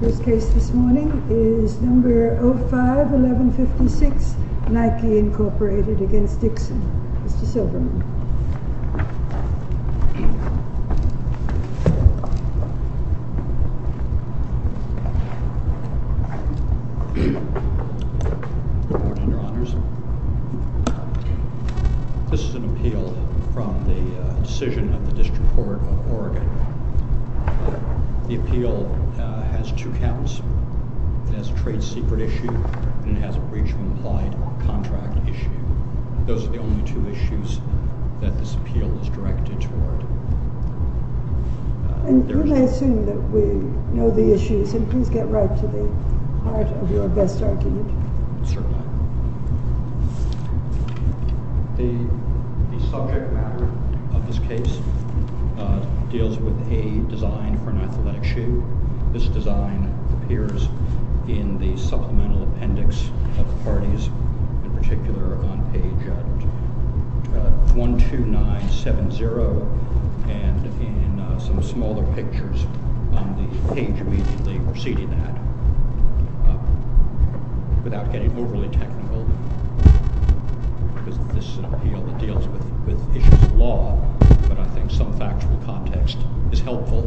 First case this morning is number 05-1156 Nike Inc v. Dixon Mr. Silberman This is an appeal from the decision of the District Court of Oregon. The appeal has two counts. It has a trade secret issue and it has a breach of implied contract issue. Those are the only two issues that this appeal is directed toward. And you may assume that we know the issues and please get right to the heart of your best argument. Certainly. The subject matter of this case deals with a design for an athletic shoe. This design appears in the supplemental appendix of the parties in particular on page 12970 and in some smaller pictures on the page immediately preceding that. Without getting overly technical, because this is an appeal that deals with issues of law, but I think some factual context is helpful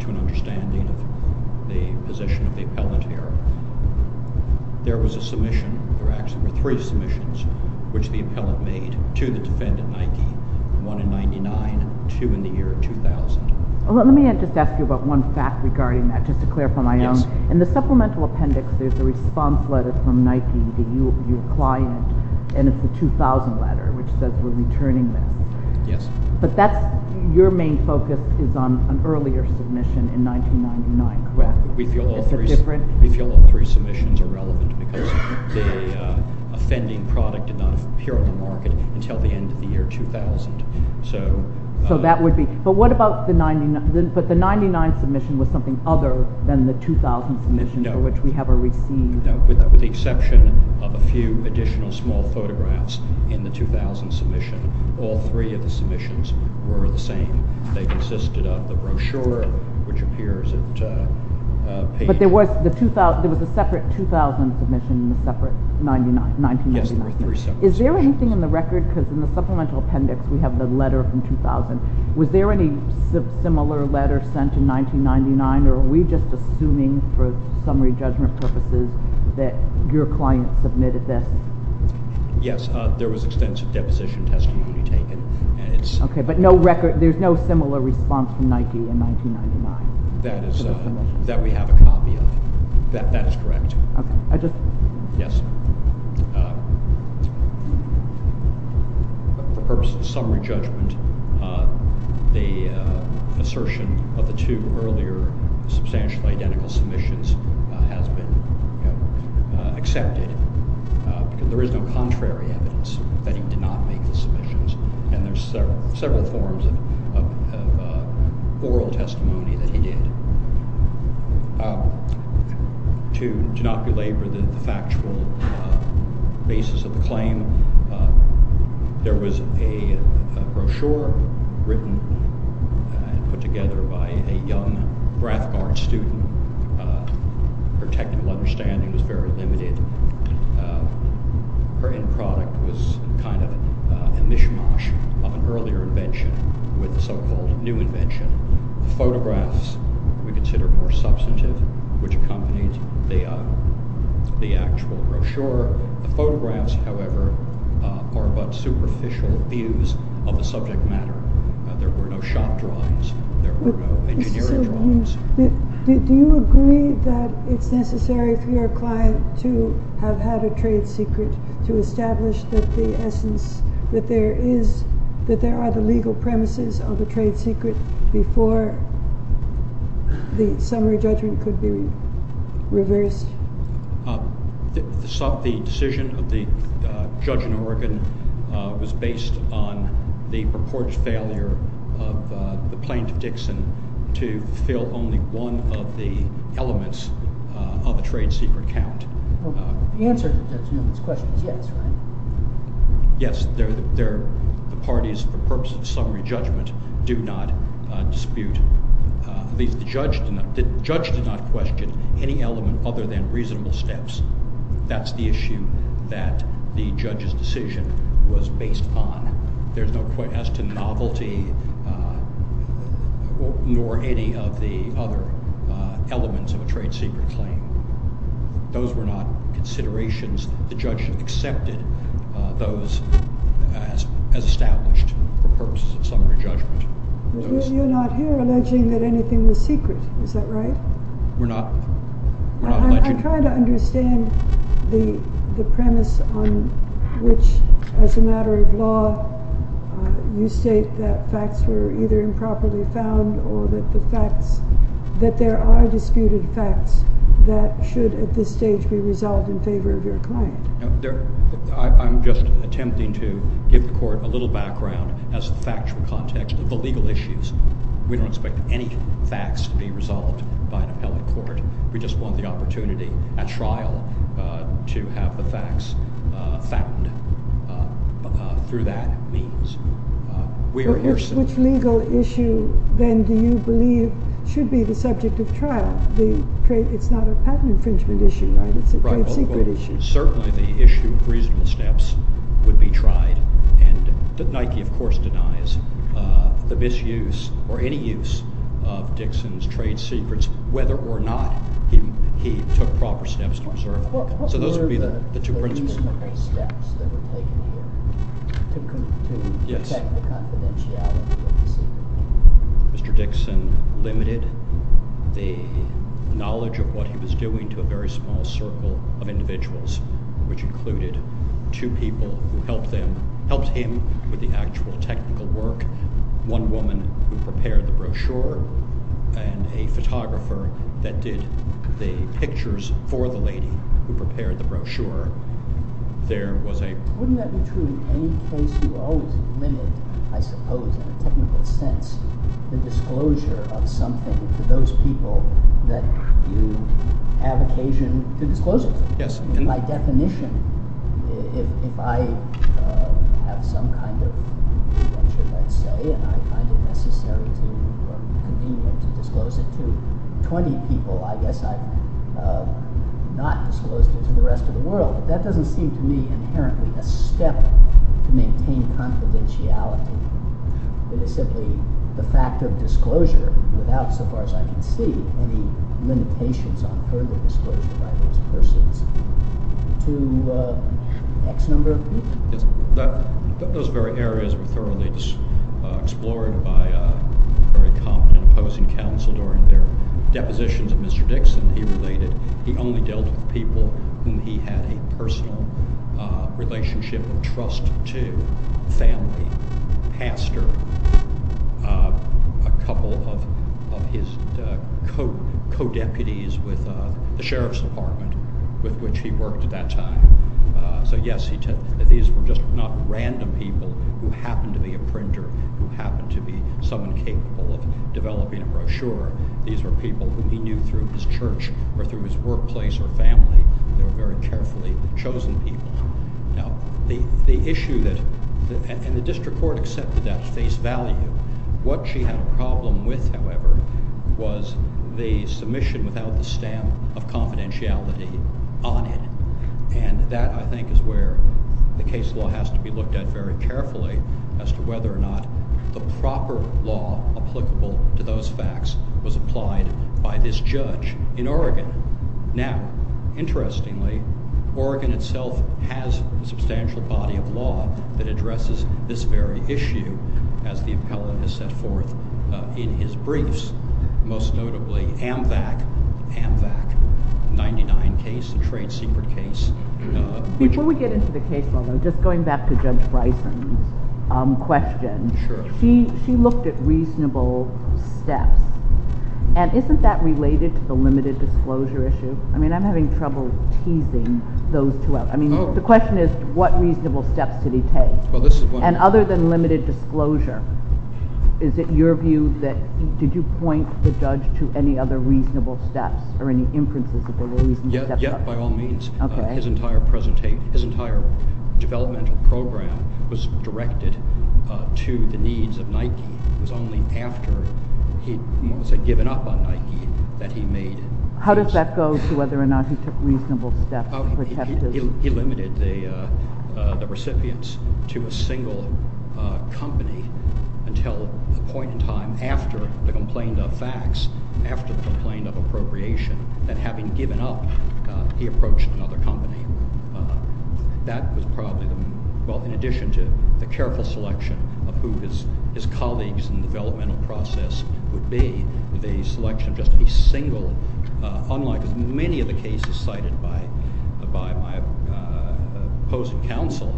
to an understanding of the position of the appellant here. There was a submission, there actually were three submissions, which the appellant made to the defendant, Nike, one in 1999 and two in the year 2000. Let me just ask you about one fact regarding that, just to clarify my own. Yes. In the supplemental appendix there's a response letter from Nike to your client and it's a 2000 letter which says we're returning them. Yes. But that's, your main focus is on an earlier submission in 1999, correct? Correct. Is it different? We feel all three submissions are relevant because the offending product did not appear on the market until the end of the year 2000. So that would be, but what about the 99, but the 99th submission was something other than the 2000 submission for which we have a receipt. No, with the exception of a few additional small photographs in the 2000 submission, all three of the submissions were the same. They consisted of the brochure which appears at page. But there was a separate 2000 submission and a separate 1999. Yes, there were three separate submissions. Is there anything in the record, because in the supplemental appendix we have the letter from 2000, was there any similar letter sent in 1999 or are we just assuming for summary judgment purposes that your client submitted this? Yes, there was extensive deposition testimony taken. Okay, but no record, there's no similar response from Nike in 1999? That we have a copy of, that is correct. For purposes of summary judgment, the assertion of the two earlier substantially identical submissions has been accepted because there is no contrary evidence that he did not make any of the submissions and there's several forms of oral testimony that he did. To not belabor the factual basis of the claim, there was a brochure written and put together by a young Brathcart student. Her technical understanding was very limited. Her end product was kind of a mishmash of an earlier invention with a so-called new invention. The photographs we consider more substantive, which accompanied the actual brochure. The photographs, however, are but superficial views of the subject matter. There were no shop drawings, there were no engineering drawings. Do you agree that it's necessary for your client to have had a trade secret to establish that there are the legal premises of a trade secret before the summary judgment could be reversed? The decision of the judge in Oregon was based on the purported failure of the plaintiff, Judge Dixon, to fill only one of the elements of a trade secret count. The answer to Judge Newman's question is yes, right? Yes, the parties for purposes of summary judgment do not dispute, at least the judge did not question any element other than reasonable steps. That's the issue that the judge's decision was based on. There's no question as to novelty nor any of the other elements of a trade secret claim. Those were not considerations. The judge accepted those as established for purposes of summary judgment. You're not here alleging that anything was secret, is that right? We're not. I'm trying to understand the premise on which, as a matter of law, you state that facts were either improperly found or that there are disputed facts that should at this stage be resolved in favor of your client. I'm just attempting to give the court a little background as a factual context of the legal issues. We don't expect any facts to be resolved by an appellate court. We just want the opportunity at trial to have the facts found through that means. Which legal issue then do you believe should be the subject of trial? It's not a patent infringement issue, right? It's a trade secret issue. Certainly the issue of reasonable steps would be tried. Nike, of course, denies the misuse or any use of Dixon's trade secrets, whether or not he took proper steps to preserve them. What were the reasonable steps that were taken here to protect the confidentiality of the secret? Mr. Dixon limited the knowledge of what he was doing to a very small circle of individuals, which included two people who helped him with the actual technical work, one woman who prepared the brochure, and a photographer that did the pictures for the lady who prepared the brochure. Wouldn't that be true in any case? You always limit, I suppose in a technical sense, the disclosure of something to those people that you have occasion to disclose it to. In my definition, if I have some kind of information, let's say, and I find it necessary or convenient to disclose it to 20 people, I guess I've not disclosed it to the rest of the world. That doesn't seem to me inherently a step to maintain confidentiality. It is simply the fact of disclosure without, so far as I can see, any limitations on further disclosure by those persons to X number. Those very areas were thoroughly explored by a very competent opposing counsel during their depositions of Mr. Dixon he related. He only dealt with people whom he had a personal relationship and trust to, family, pastor, a couple of his co-deputies with the sheriff's department with which he worked at that time. So, yes, these were just not random people who happened to be a printer, who happened to be someone capable of developing a brochure. These were people whom he knew through his church or through his workplace or family. They were very carefully chosen people. Now, the issue that, and the district court accepted that face value. What she had a problem with, however, was the submission without the stamp of confidentiality on it. And that, I think, is where the case law has to be looked at very carefully as to whether or not the proper law applicable to those facts was applied by this judge in Oregon. Now, interestingly, Oregon itself has a substantial body of law that addresses this very issue as the appellant has set forth in his briefs. Most notably, Amvac, Amvac 99 case, a trade secret case. Before we get into the case law, though, just going back to Judge Bryson's question. Sure. She looked at reasonable steps. And isn't that related to the limited disclosure issue? I mean, I'm having trouble teasing those two out. I mean, the question is, what reasonable steps did he take? And other than limited disclosure, is it your view that, did you point the judge to any other reasonable steps or any inferences that there were reasonable steps? Yes, by all means. His entire developmental program was directed to the needs of Nike. It was only after he had more or less given up on Nike that he made it. How does that go to whether or not he took reasonable steps? He limited the recipients to a single company until a point in time after the complaint of facts, after the complaint of appropriation, that having given up, he approached another company. That was probably, well, in addition to the careful selection of who his colleagues in the developmental process would be, with a selection of just a single, unlike many of the cases cited by my opposing counsel,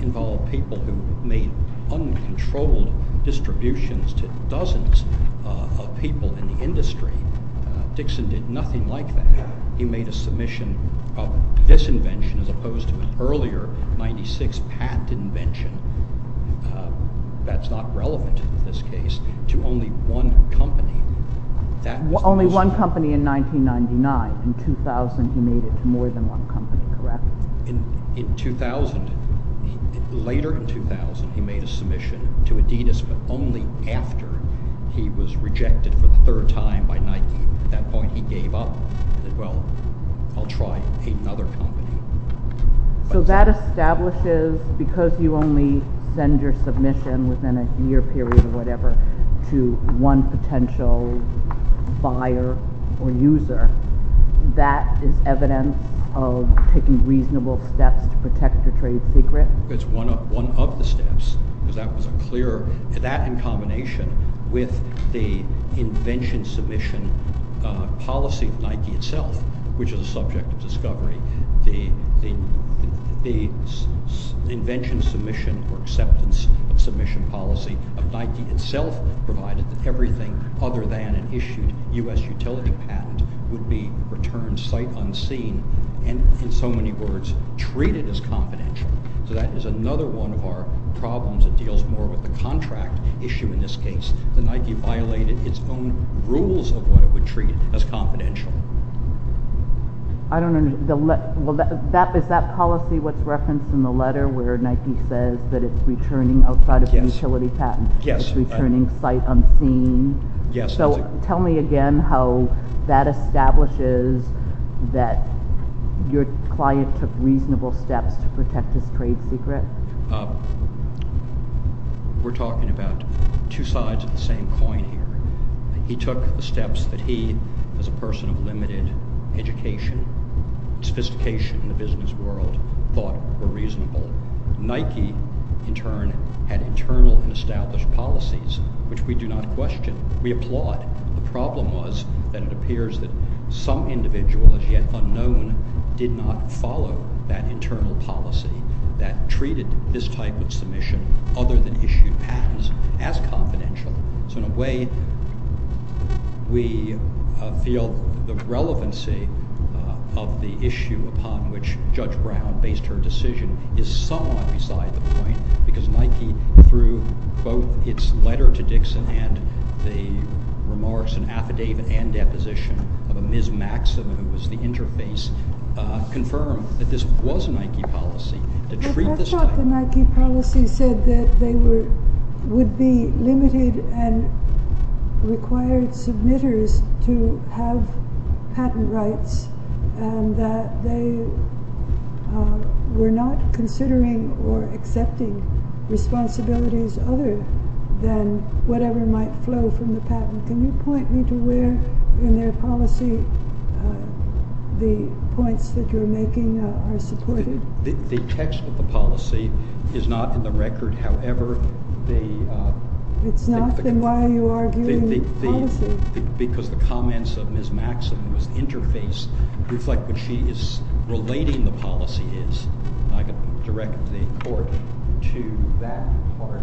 involved people who made uncontrolled distributions to dozens of people in the industry. Dixon did nothing like that. He made a submission of this invention as opposed to an earlier, 1996 patent invention that's not relevant in this case, to only one company. Only one company in 1999. In 2000, he made it to more than one company, correct? In 2000, later in 2000, he made a submission to Adidas, but only after he was rejected for the third time by Nike. At that point, he gave up. He said, well, I'll try another company. So that establishes, because you only send your submission within a year period or whatever to one potential buyer or user, that is evidence of taking reasonable steps to protect your trade secret? It's one of the steps, because that was a clear... which is a subject of discovery. The invention submission or acceptance of submission policy of Nike itself provided that everything other than an issued U.S. utility patent would be returned sight unseen and, in so many words, treated as confidential. So that is another one of our problems. It deals more with the contract issue in this case. The Nike violated its own rules of what it would treat as confidential. I don't understand. Is that policy what's referenced in the letter where Nike says that it's returning outside of the utility patent? Yes. It's returning sight unseen? Yes. So tell me again how that establishes that your client took reasonable steps to protect his trade secret. We're talking about two sides of the same coin here. He took the steps that he, as a person of limited education, sophistication in the business world, thought were reasonable. Nike, in turn, had internal and established policies, which we do not question. We applaud. The problem was that it appears that some individual, as yet unknown, did not follow that internal policy that treated this type of submission, other than issued patents, as confidential. So, in a way, we feel the relevancy of the issue upon which Judge Brown based her decision is somewhat beside the point because Nike, through both its letter to Dixon and the remarks and affidavit and deposition of a Ms. Maxim, who was the interface, confirmed that this was a Nike policy. That's what the Nike policy said, that they would be limited and required submitters to have patent rights and that they were not considering or accepting responsibilities other than whatever might flow from the patent. Can you point me to where in their policy the points that you're making are supported? The text of the policy is not in the record. However, the... It's not? Then why are you arguing the policy? Because the comments of Ms. Maxim, who was the interface, reflect what she is relating the policy is. I can direct the court to that part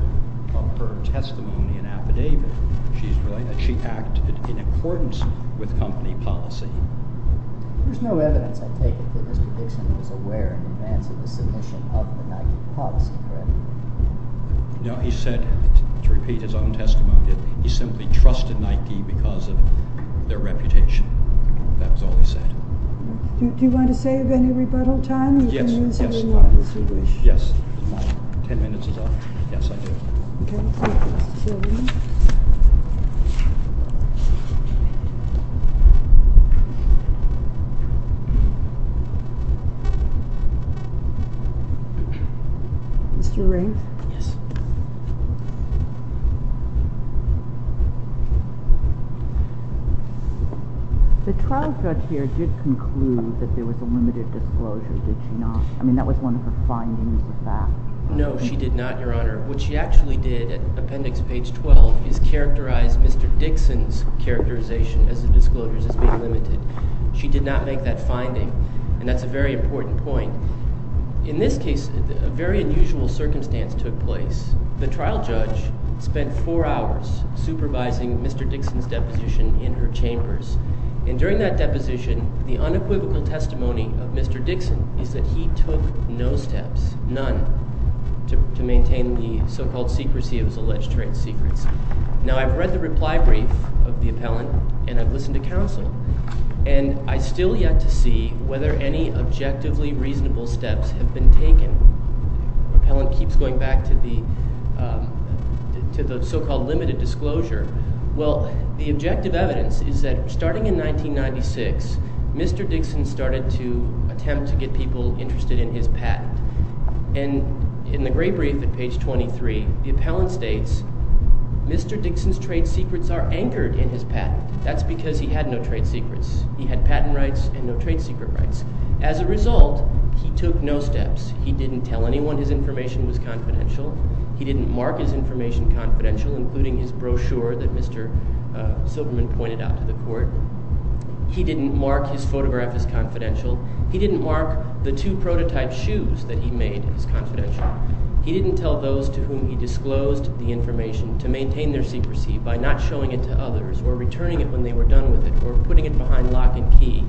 of her testimony and affidavit. She acted in accordance with company policy. There's no evidence, I take it, that Mr. Dixon was aware in advance of the submission of the Nike policy, correct? No, he said, to repeat his own testimony, that he simply trusted Nike because of their reputation. That's all he said. Do you want to save any rebuttal time? Yes, yes. Ten minutes is up. Yes, I do. Thank you. Mr. Rains? Yes. The trial judge here did conclude that there was a limited disclosure, did she not? I mean, that was one of her findings, the fact. No, she did not, Your Honor. What she actually did at Appendix Page 12 is characterize Mr. Dixon's characterization as the disclosures as being limited. She did not make that finding, and that's a very important point. In this case, a very unusual circumstance took place. The trial judge spent four hours supervising Mr. Dixon's deposition in her chambers, and during that deposition, the unequivocal testimony of Mr. Dixon is that he took no steps, none, to maintain the so-called secrecy of his alleged trade secrets. Now, I've read the reply brief of the appellant, and I've listened to counsel, and I still yet to see whether any objectively reasonable steps have been taken. The appellant keeps going back to the so-called limited disclosure. Well, the objective evidence is that starting in 1996, Mr. Dixon started to attempt to get people interested in his patent. And in the gray brief at Page 23, the appellant states, Mr. Dixon's trade secrets are anchored in his patent. That's because he had no trade secrets. He had patent rights and no trade secret rights. As a result, he took no steps. He didn't tell anyone his information was confidential. He didn't mark his information confidential, including his brochure that Mr. Silverman pointed out to the court. He didn't mark his photograph as confidential. He didn't mark the two prototype shoes that he made as confidential. He didn't tell those to whom he disclosed the information to maintain their secrecy by not showing it to others or returning it when they were done with it or putting it behind lock and key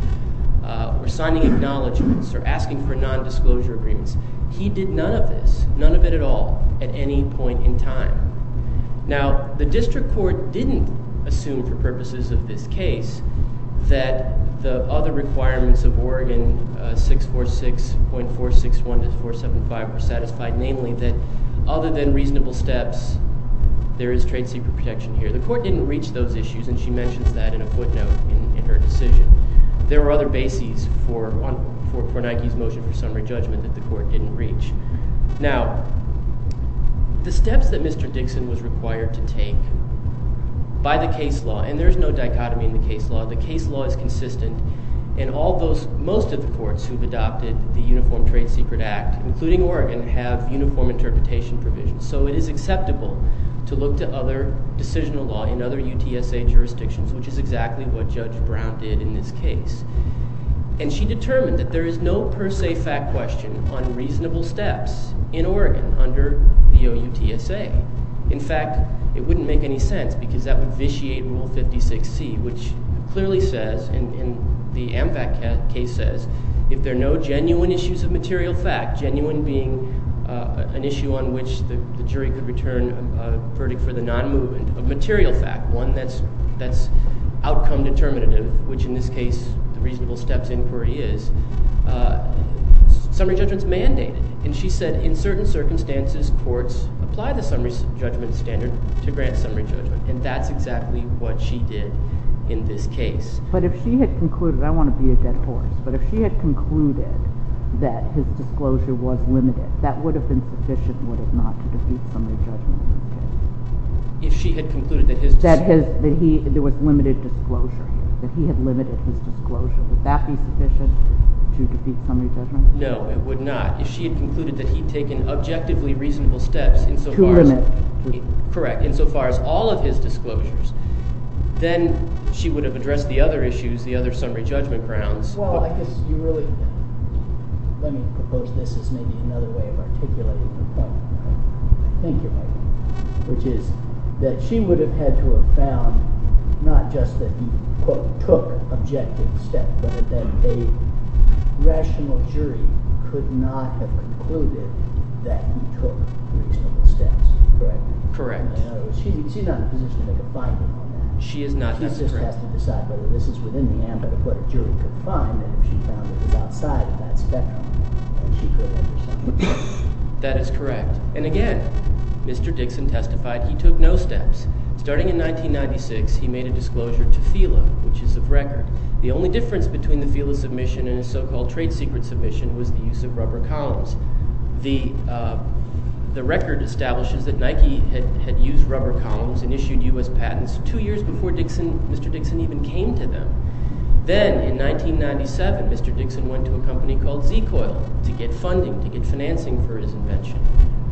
or signing acknowledgments or asking for nondisclosure agreements. He did none of this, none of it at all, at any point in time. Now, the district court didn't assume for purposes of this case that the other requirements of Oregon 646.461-475 were satisfied, namely that other than reasonable steps, there is trade secret protection here. The court didn't reach those issues, and she mentions that in a footnote in her decision. There were other bases for Nike's motion for summary judgment that the court didn't reach. Now, the steps that Mr. Dixon was required to take by the case law, and there's no dichotomy in the case law. The case law is consistent, and most of the courts who've adopted the Uniform Trade Secret Act, including Oregon, have uniform interpretation provisions. So it is acceptable to look to other decisional law in other UTSA jurisdictions, which is exactly what Judge Brown did in this case. And she determined that there is no per se fact question on reasonable steps in Oregon under the OUTSA. In fact, it wouldn't make any sense because that would vitiate Rule 56C, which clearly says, and the AMFAC case says, if there are no genuine issues of material fact, genuine being an issue on which the jury could return a verdict for the non-movement of material fact, one that's outcome determinative, which in this case the reasonable steps inquiry is, summary judgment's mandated. And she said in certain circumstances, courts apply the summary judgment standard to grant summary judgment, and that's exactly what she did in this case. But if she had concluded—I don't want to be a dead horse— but if she had concluded that his disclosure was limited, that would have been sufficient, would it not, to defeat summary judgment in this case? If she had concluded that his— That there was limited disclosure, that he had limited his disclosure, would that be sufficient to defeat summary judgment? No, it would not. If she had concluded that he'd taken objectively reasonable steps insofar as— To limit. Correct. Insofar as all of his disclosures, then she would have addressed the other issues, the other summary judgment grounds. Well, I guess you really—let me propose this as maybe another way of articulating the point. Thank you, Michael. Which is that she would have had to have found not just that he, quote, took objective steps, but that a rational jury could not have concluded that he took reasonable steps, correct? Correct. In other words, she's not in a position to make a finding on that. She is not necessary. She just has to decide whether this is within the ambit of what a jury could find, and if she found it was outside of that spectrum, then she could have addressed that. That is correct. And again, Mr. Dixon testified he took no steps. Starting in 1996, he made a disclosure to FILA, which is of record. The only difference between the FILA submission and his so-called trade secret submission was the use of rubber columns. The record establishes that Nike had used rubber columns and issued U.S. patents two years before Mr. Dixon even came to them. Then in 1997, Mr. Dixon went to a company called Z-Coil to get funding, to get financing for his invention.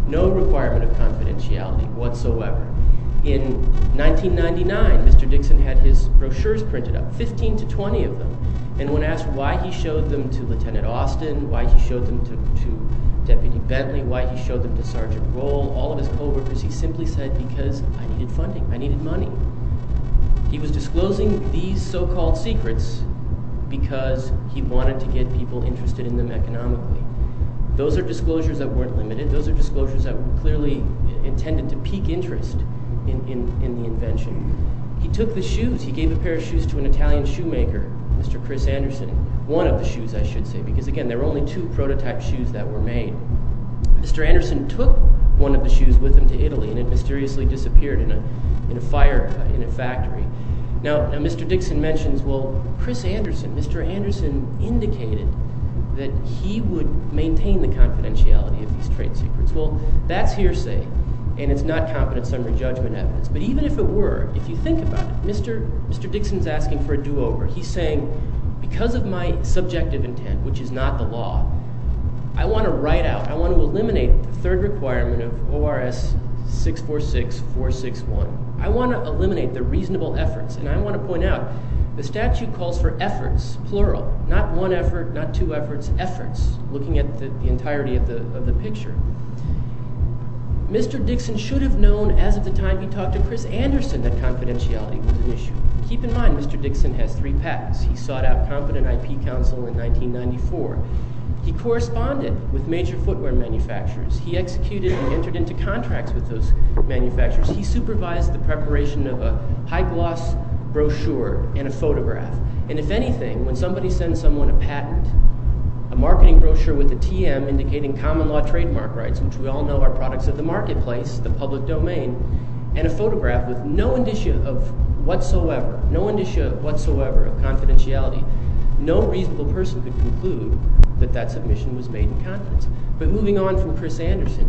No requirement of confidentiality whatsoever. In 1999, Mr. Dixon had his brochures printed up, 15 to 20 of them, and when asked why he showed them to Lieutenant Austin, why he showed them to Deputy Bentley, why he showed them to Sergeant Roll, all of his co-workers, he simply said, because I needed funding, I needed money. He was disclosing these so-called secrets because he wanted to get people interested in them economically. Those are disclosures that weren't limited. Those are disclosures that clearly intended to pique interest in the invention. He took the shoes. He gave a pair of shoes to an Italian shoemaker, Mr. Chris Anderson. One of the shoes, I should say, because again, there were only two prototype shoes that were made. Mr. Anderson took one of the shoes with him to Italy, and it mysteriously disappeared in a fire in a factory. Now, Mr. Dixon mentions, well, Chris Anderson, Mr. Anderson indicated that he would maintain the confidentiality of these trade secrets. Well, that's hearsay, and it's not confidence-summary judgment evidence. But even if it were, if you think about it, Mr. Dixon's asking for a do-over. He's saying, because of my subjective intent, which is not the law, I want to write out, I want to eliminate the third requirement of ORS 646461. I want to eliminate the reasonable efforts, and I want to point out, the statute calls for efforts, plural, not one effort, not two efforts, efforts, looking at the entirety of the picture. Mr. Dixon should have known as of the time he talked to Chris Anderson that confidentiality was an issue. Keep in mind, Mr. Dixon has three patents. He sought out competent IP counsel in 1994. He corresponded with major footwear manufacturers. He executed and entered into contracts with those manufacturers. He supervised the preparation of a high-gloss brochure and a photograph. And if anything, when somebody sends someone a patent, a marketing brochure with a TM indicating common-law trademark rights, which we all know are products of the marketplace, the public domain, and a photograph with no indicia of whatsoever, no indicia whatsoever of confidentiality, no reasonable person could conclude that that submission was made in confidence. But moving on from Chris Anderson,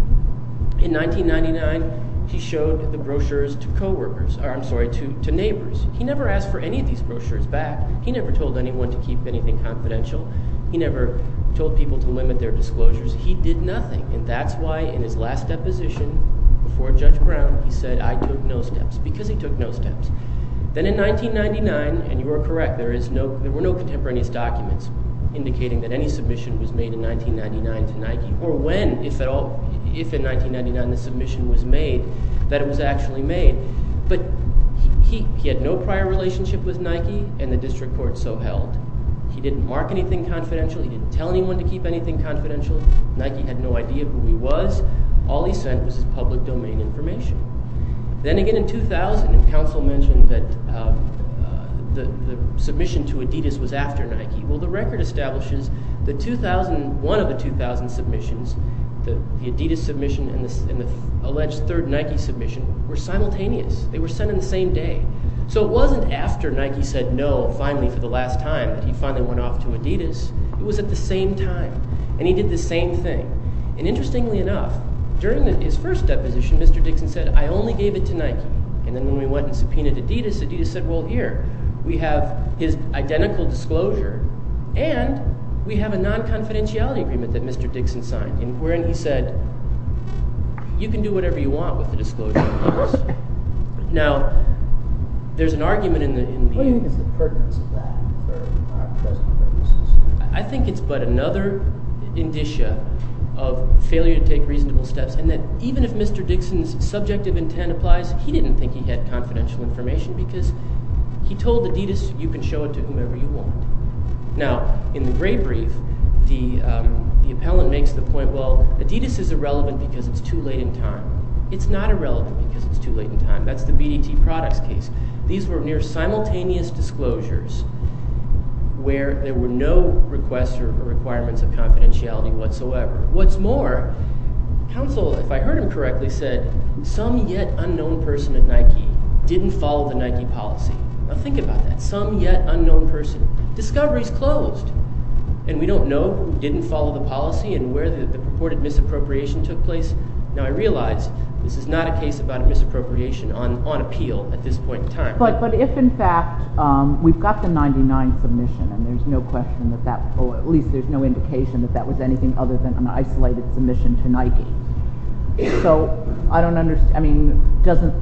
in 1999 he showed the brochures to coworkers, or I'm sorry, to neighbors. He never asked for any of these brochures back. He never told anyone to keep anything confidential. He never told people to limit their disclosures. He did nothing, and that's why in his last deposition before Judge Brown he said, I took no steps, because he took no steps. Then in 1999, and you are correct, there were no contemporaneous documents indicating that any submission was made in 1999 to Nike, or when, if at all, if in 1999 the submission was made, that it was actually made. But he had no prior relationship with Nike, and the district court so held. He didn't mark anything confidential. He didn't tell anyone to keep anything confidential. Nike had no idea who he was. All he sent was his public domain information. Then again in 2000, and counsel mentioned that the submission to Adidas was after Nike. Well, the record establishes that one of the 2000 submissions, the Adidas submission and the alleged third Nike submission were simultaneous. They were sent in the same day. So it wasn't after Nike said no finally for the last time that he finally went off to Adidas. It was at the same time, and he did the same thing. Interestingly enough, during his first deposition, Mr. Dixon said, I only gave it to Nike, and then when we went and subpoenaed Adidas, Adidas said, well, here, we have his identical disclosure and we have a non-confidentiality agreement that Mr. Dixon signed, wherein he said, you can do whatever you want with the disclosure. Now, there's an argument in the… What do you think is the pertinence of that? I think it's but another indicia of failure to take reasonable steps, and that even if Mr. Dixon's subjective intent applies, he didn't think he had confidential information because he told Adidas, you can show it to whomever you want. Now, in the gray brief, the appellant makes the point, well, Adidas is irrelevant because it's too late in time. It's not irrelevant because it's too late in time. That's the BDT products case. These were near simultaneous disclosures where there were no requests or requirements of confidentiality whatsoever. What's more, counsel, if I heard him correctly, said, some yet unknown person at Nike didn't follow the Nike policy. Now, think about that. Some yet unknown person. Discovery's closed, and we don't know who didn't follow the policy and where the purported misappropriation took place. Now, I realize this is not a case about a misappropriation on appeal at this point in time. But if, in fact, we've got the 1999 submission, and there's no question that that, or at least there's no indication that that was anything other than an isolated submission to Nike, so I don't understand, I mean, doesn't,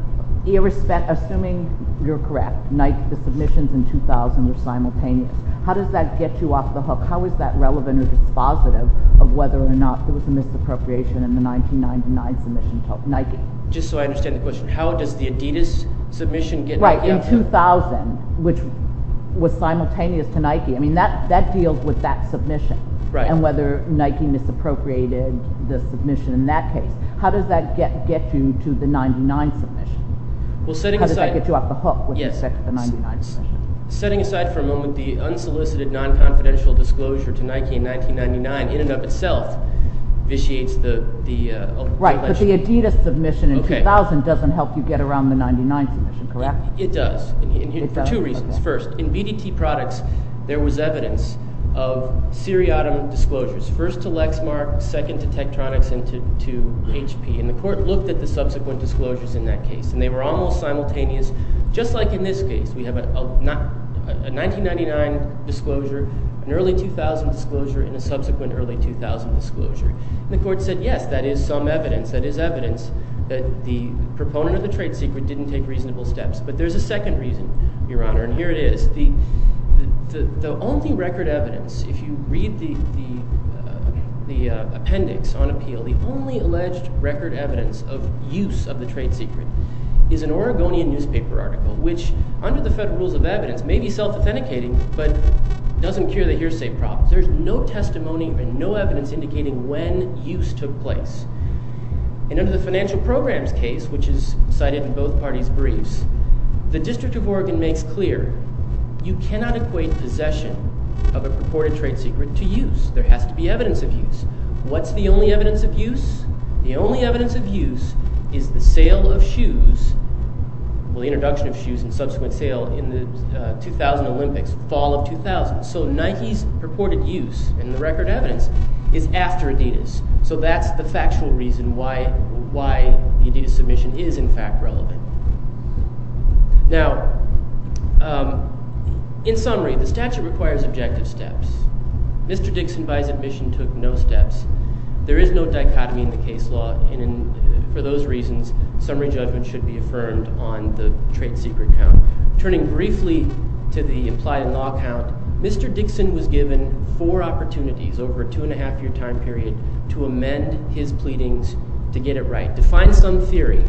irrespect, assuming you're correct, Nike, the submissions in 2000 were simultaneous. How does that get you off the hook? How is that relevant or dispositive of whether or not there was a misappropriation in the 1999 submission to Nike? Just so I understand the question, how does the Adidas submission get… Right, in 2000, which was simultaneous to Nike. I mean, that deals with that submission and whether Nike misappropriated the submission in that case. How does that get you to the 1999 submission? How does that get you off the hook with respect to the 1999 submission? Setting aside for a moment the unsolicited non-confidential disclosure to Nike in 1999 in and of itself vitiates the… Right, but the Adidas submission in 2000 doesn't help you get around the 1999 submission, correct? It does, for two reasons. First, in BDT products, there was evidence of seriatim disclosures, first to Lexmark, second to Tektronix, and to HP, and the court looked at the subsequent disclosures in that case, and they were almost simultaneous, just like in this case. We have a 1999 disclosure, an early 2000 disclosure, and a subsequent early 2000 disclosure. And the court said, yes, that is some evidence, that is evidence that the proponent of the trade secret didn't take reasonable steps. But there's a second reason, Your Honor, and here it is. The only record evidence, if you read the appendix on appeal, the only alleged record evidence of use of the trade secret is an Oregonian newspaper article, which, under the federal rules of evidence, may be self-authenticating, but doesn't cure the hearsay problem. There's no testimony and no evidence indicating when use took place. And under the financial programs case, which is cited in both parties' briefs, the District of Oregon makes clear, you cannot equate possession of a purported trade secret to use. There has to be evidence of use. What's the only evidence of use? The only evidence of use is the sale of shoes, well, the introduction of shoes and subsequent sale in the 2000 Olympics, fall of 2000. So Nike's purported use in the record evidence is after Adidas. So that's the factual reason why the Adidas submission is in fact relevant. Now, in summary, the statute requires objective steps. Mr. Dixon by his admission took no steps. There is no dichotomy in the case law, and for those reasons, summary judgment should be affirmed on the trade secret count. Turning briefly to the implied in law count, Mr. Dixon was given four opportunities over a two-and-a-half-year time period to amend his pleadings to get it right, to find some theory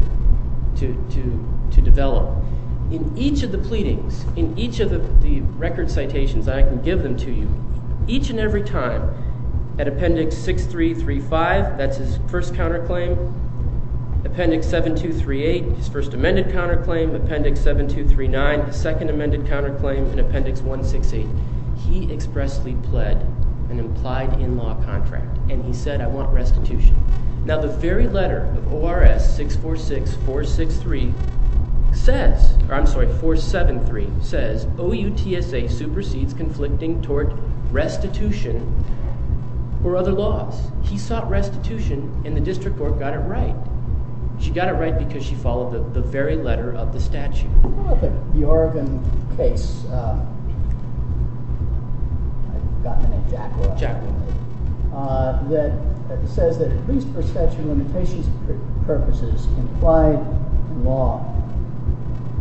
to develop. In each of the pleadings, in each of the record citations, I can give them to you, each and every time, at Appendix 6335, that's his first counterclaim, Appendix 7238, his first amended counterclaim, Appendix 7239, his second amended counterclaim, and Appendix 168. He expressly pled an implied in law contract, and he said, I want restitution. Now, the very letter of ORS 646-473 says, OUTSA supersedes conflicting tort restitution or other laws. He sought restitution, and the district court got it right. She got it right because she followed the very letter of the statute. What about the Oregon case, I've forgotten the name, that says that at least for statute of limitations purposes, implied in law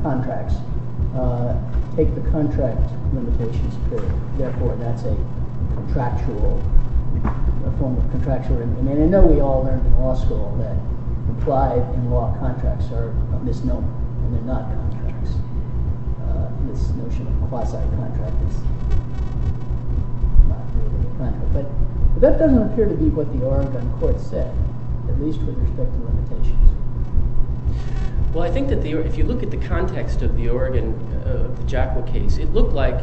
contracts take the contract limitations period. Therefore, that's a contractual, a form of contractual remuneration. I mean, I know we all learned in law school that implied in law contracts are a misnomer, and they're not contracts. This notion of quasi-contract is not really a contract. But that doesn't appear to be what the Oregon court said, at least with respect to limitations. Well, I think that if you look at the context of the Oregon, the JACWA case, it looked like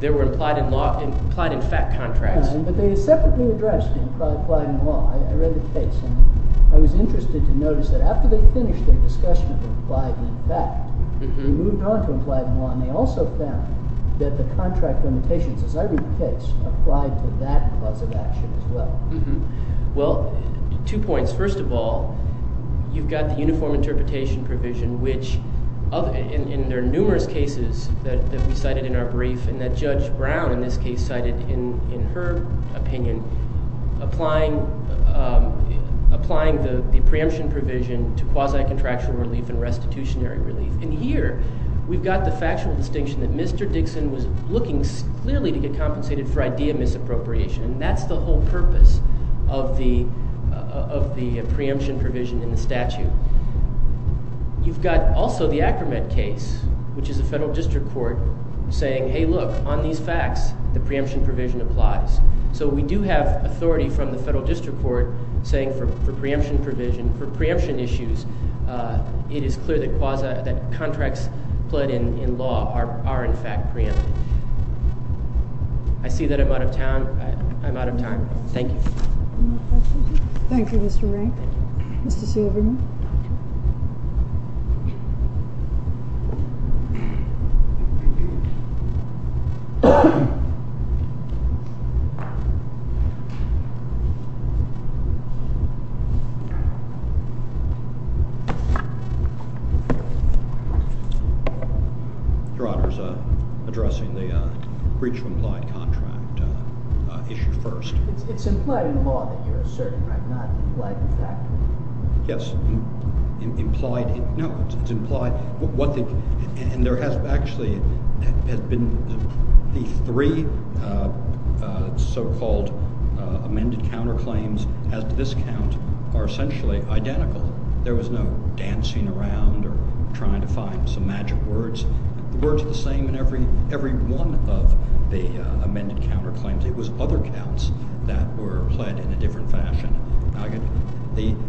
they were implied in fact contracts. But they had separately addressed implied in law. I read the case, and I was interested to notice that after they finished their discussion of implied in fact, they moved on to implied in law, and they also found that the contract limitations, as I read the case, applied to that cause of action as well. Well, two points. First of all, you've got the uniform interpretation provision, which in their numerous cases that we cited in our brief, and that Judge Brown in this case cited in her opinion, applying the preemption provision to quasi-contractual relief and restitutionary relief. And here we've got the factual distinction that Mr. Dixon was looking clearly to get compensated for idea misappropriation, and that's the whole purpose of the preemption provision in the statute. You've got also the Ackermann case, which is a federal district court, saying, hey, look, on these facts, the preemption provision applies. So we do have authority from the federal district court saying for preemption provision, for preemption issues, it is clear that contracts pled in law are in fact preempted. I see that I'm out of time. Thank you. Thank you, Mr. Rankin. Mr. Silverman. Your Honor, addressing the breach of implied contract issue first. It's implied in the law that you're asserting, right, not implied in fact? Yes. No, it's implied. And there has actually been the three so-called amended counterclaims as to this count are essentially identical. There was no dancing around or trying to find some magic words. The words are the same in every one of the amended counterclaims. It was other counts that were pled in a different fashion.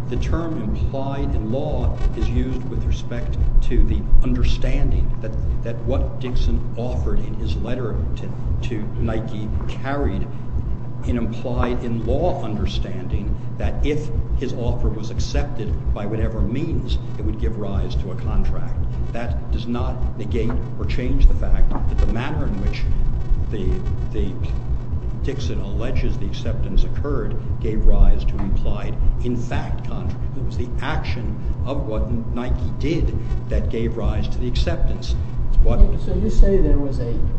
The term implied in law is used with respect to the understanding that what Dixon offered in his letter to Nike carried an implied in law understanding that if his offer was accepted by whatever means, it would give rise to a contract. That does not negate or change the fact that the manner in which Dixon alleges the acceptance occurred gave rise to implied in fact contract. It was the action of what Nike did that gave rise to the acceptance. So you say there was an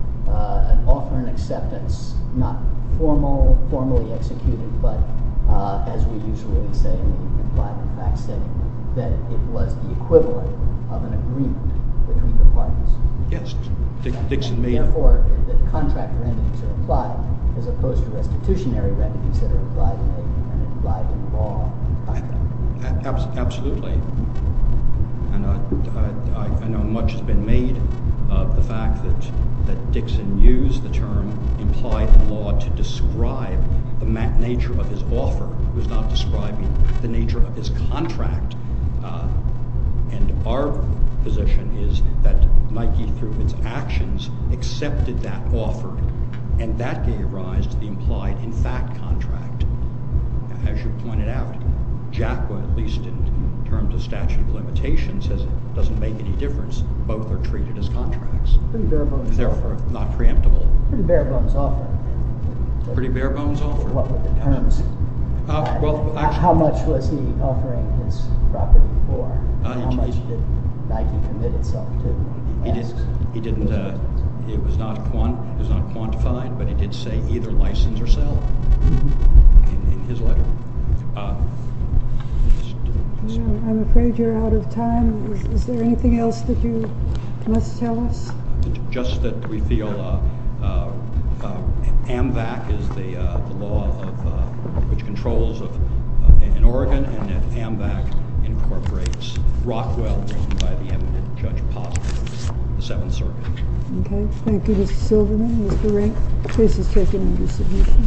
offer and acceptance, not formally executed, but as we usually say in implied in fact setting, that it was the equivalent of an agreement between the parties. Yes. Therefore, the contract remedies are implied as opposed to restitutionary remedies that are implied in law and contract. Absolutely. And I know much has been made of the fact that Dixon used the term implied in law to describe the nature of his offer. He was not describing the nature of his contract. And our position is that Nike, through its actions, accepted that offer and that gave rise to the implied in fact contract. As you pointed out, JACWA, at least in terms of statute of limitations, doesn't make any difference. Both are treated as contracts. Pretty bare bones offer. Therefore, not preemptible. Pretty bare bones offer. Pretty bare bones offer. What were the terms? How much was he offering his property for? How much did Nike commit itself to? It was not quantified, but it did say either license or sale in his letter. I'm afraid you're out of time. Is there anything else that you must tell us? Just that we feel AMVAC is the law which controls in Oregon and that AMVAC incorporates Rockwell written by the eminent Judge Posner of the Seventh Circuit. Okay. Thank you, Mr. Silverman. Mr. Rank, the case is taken under submission.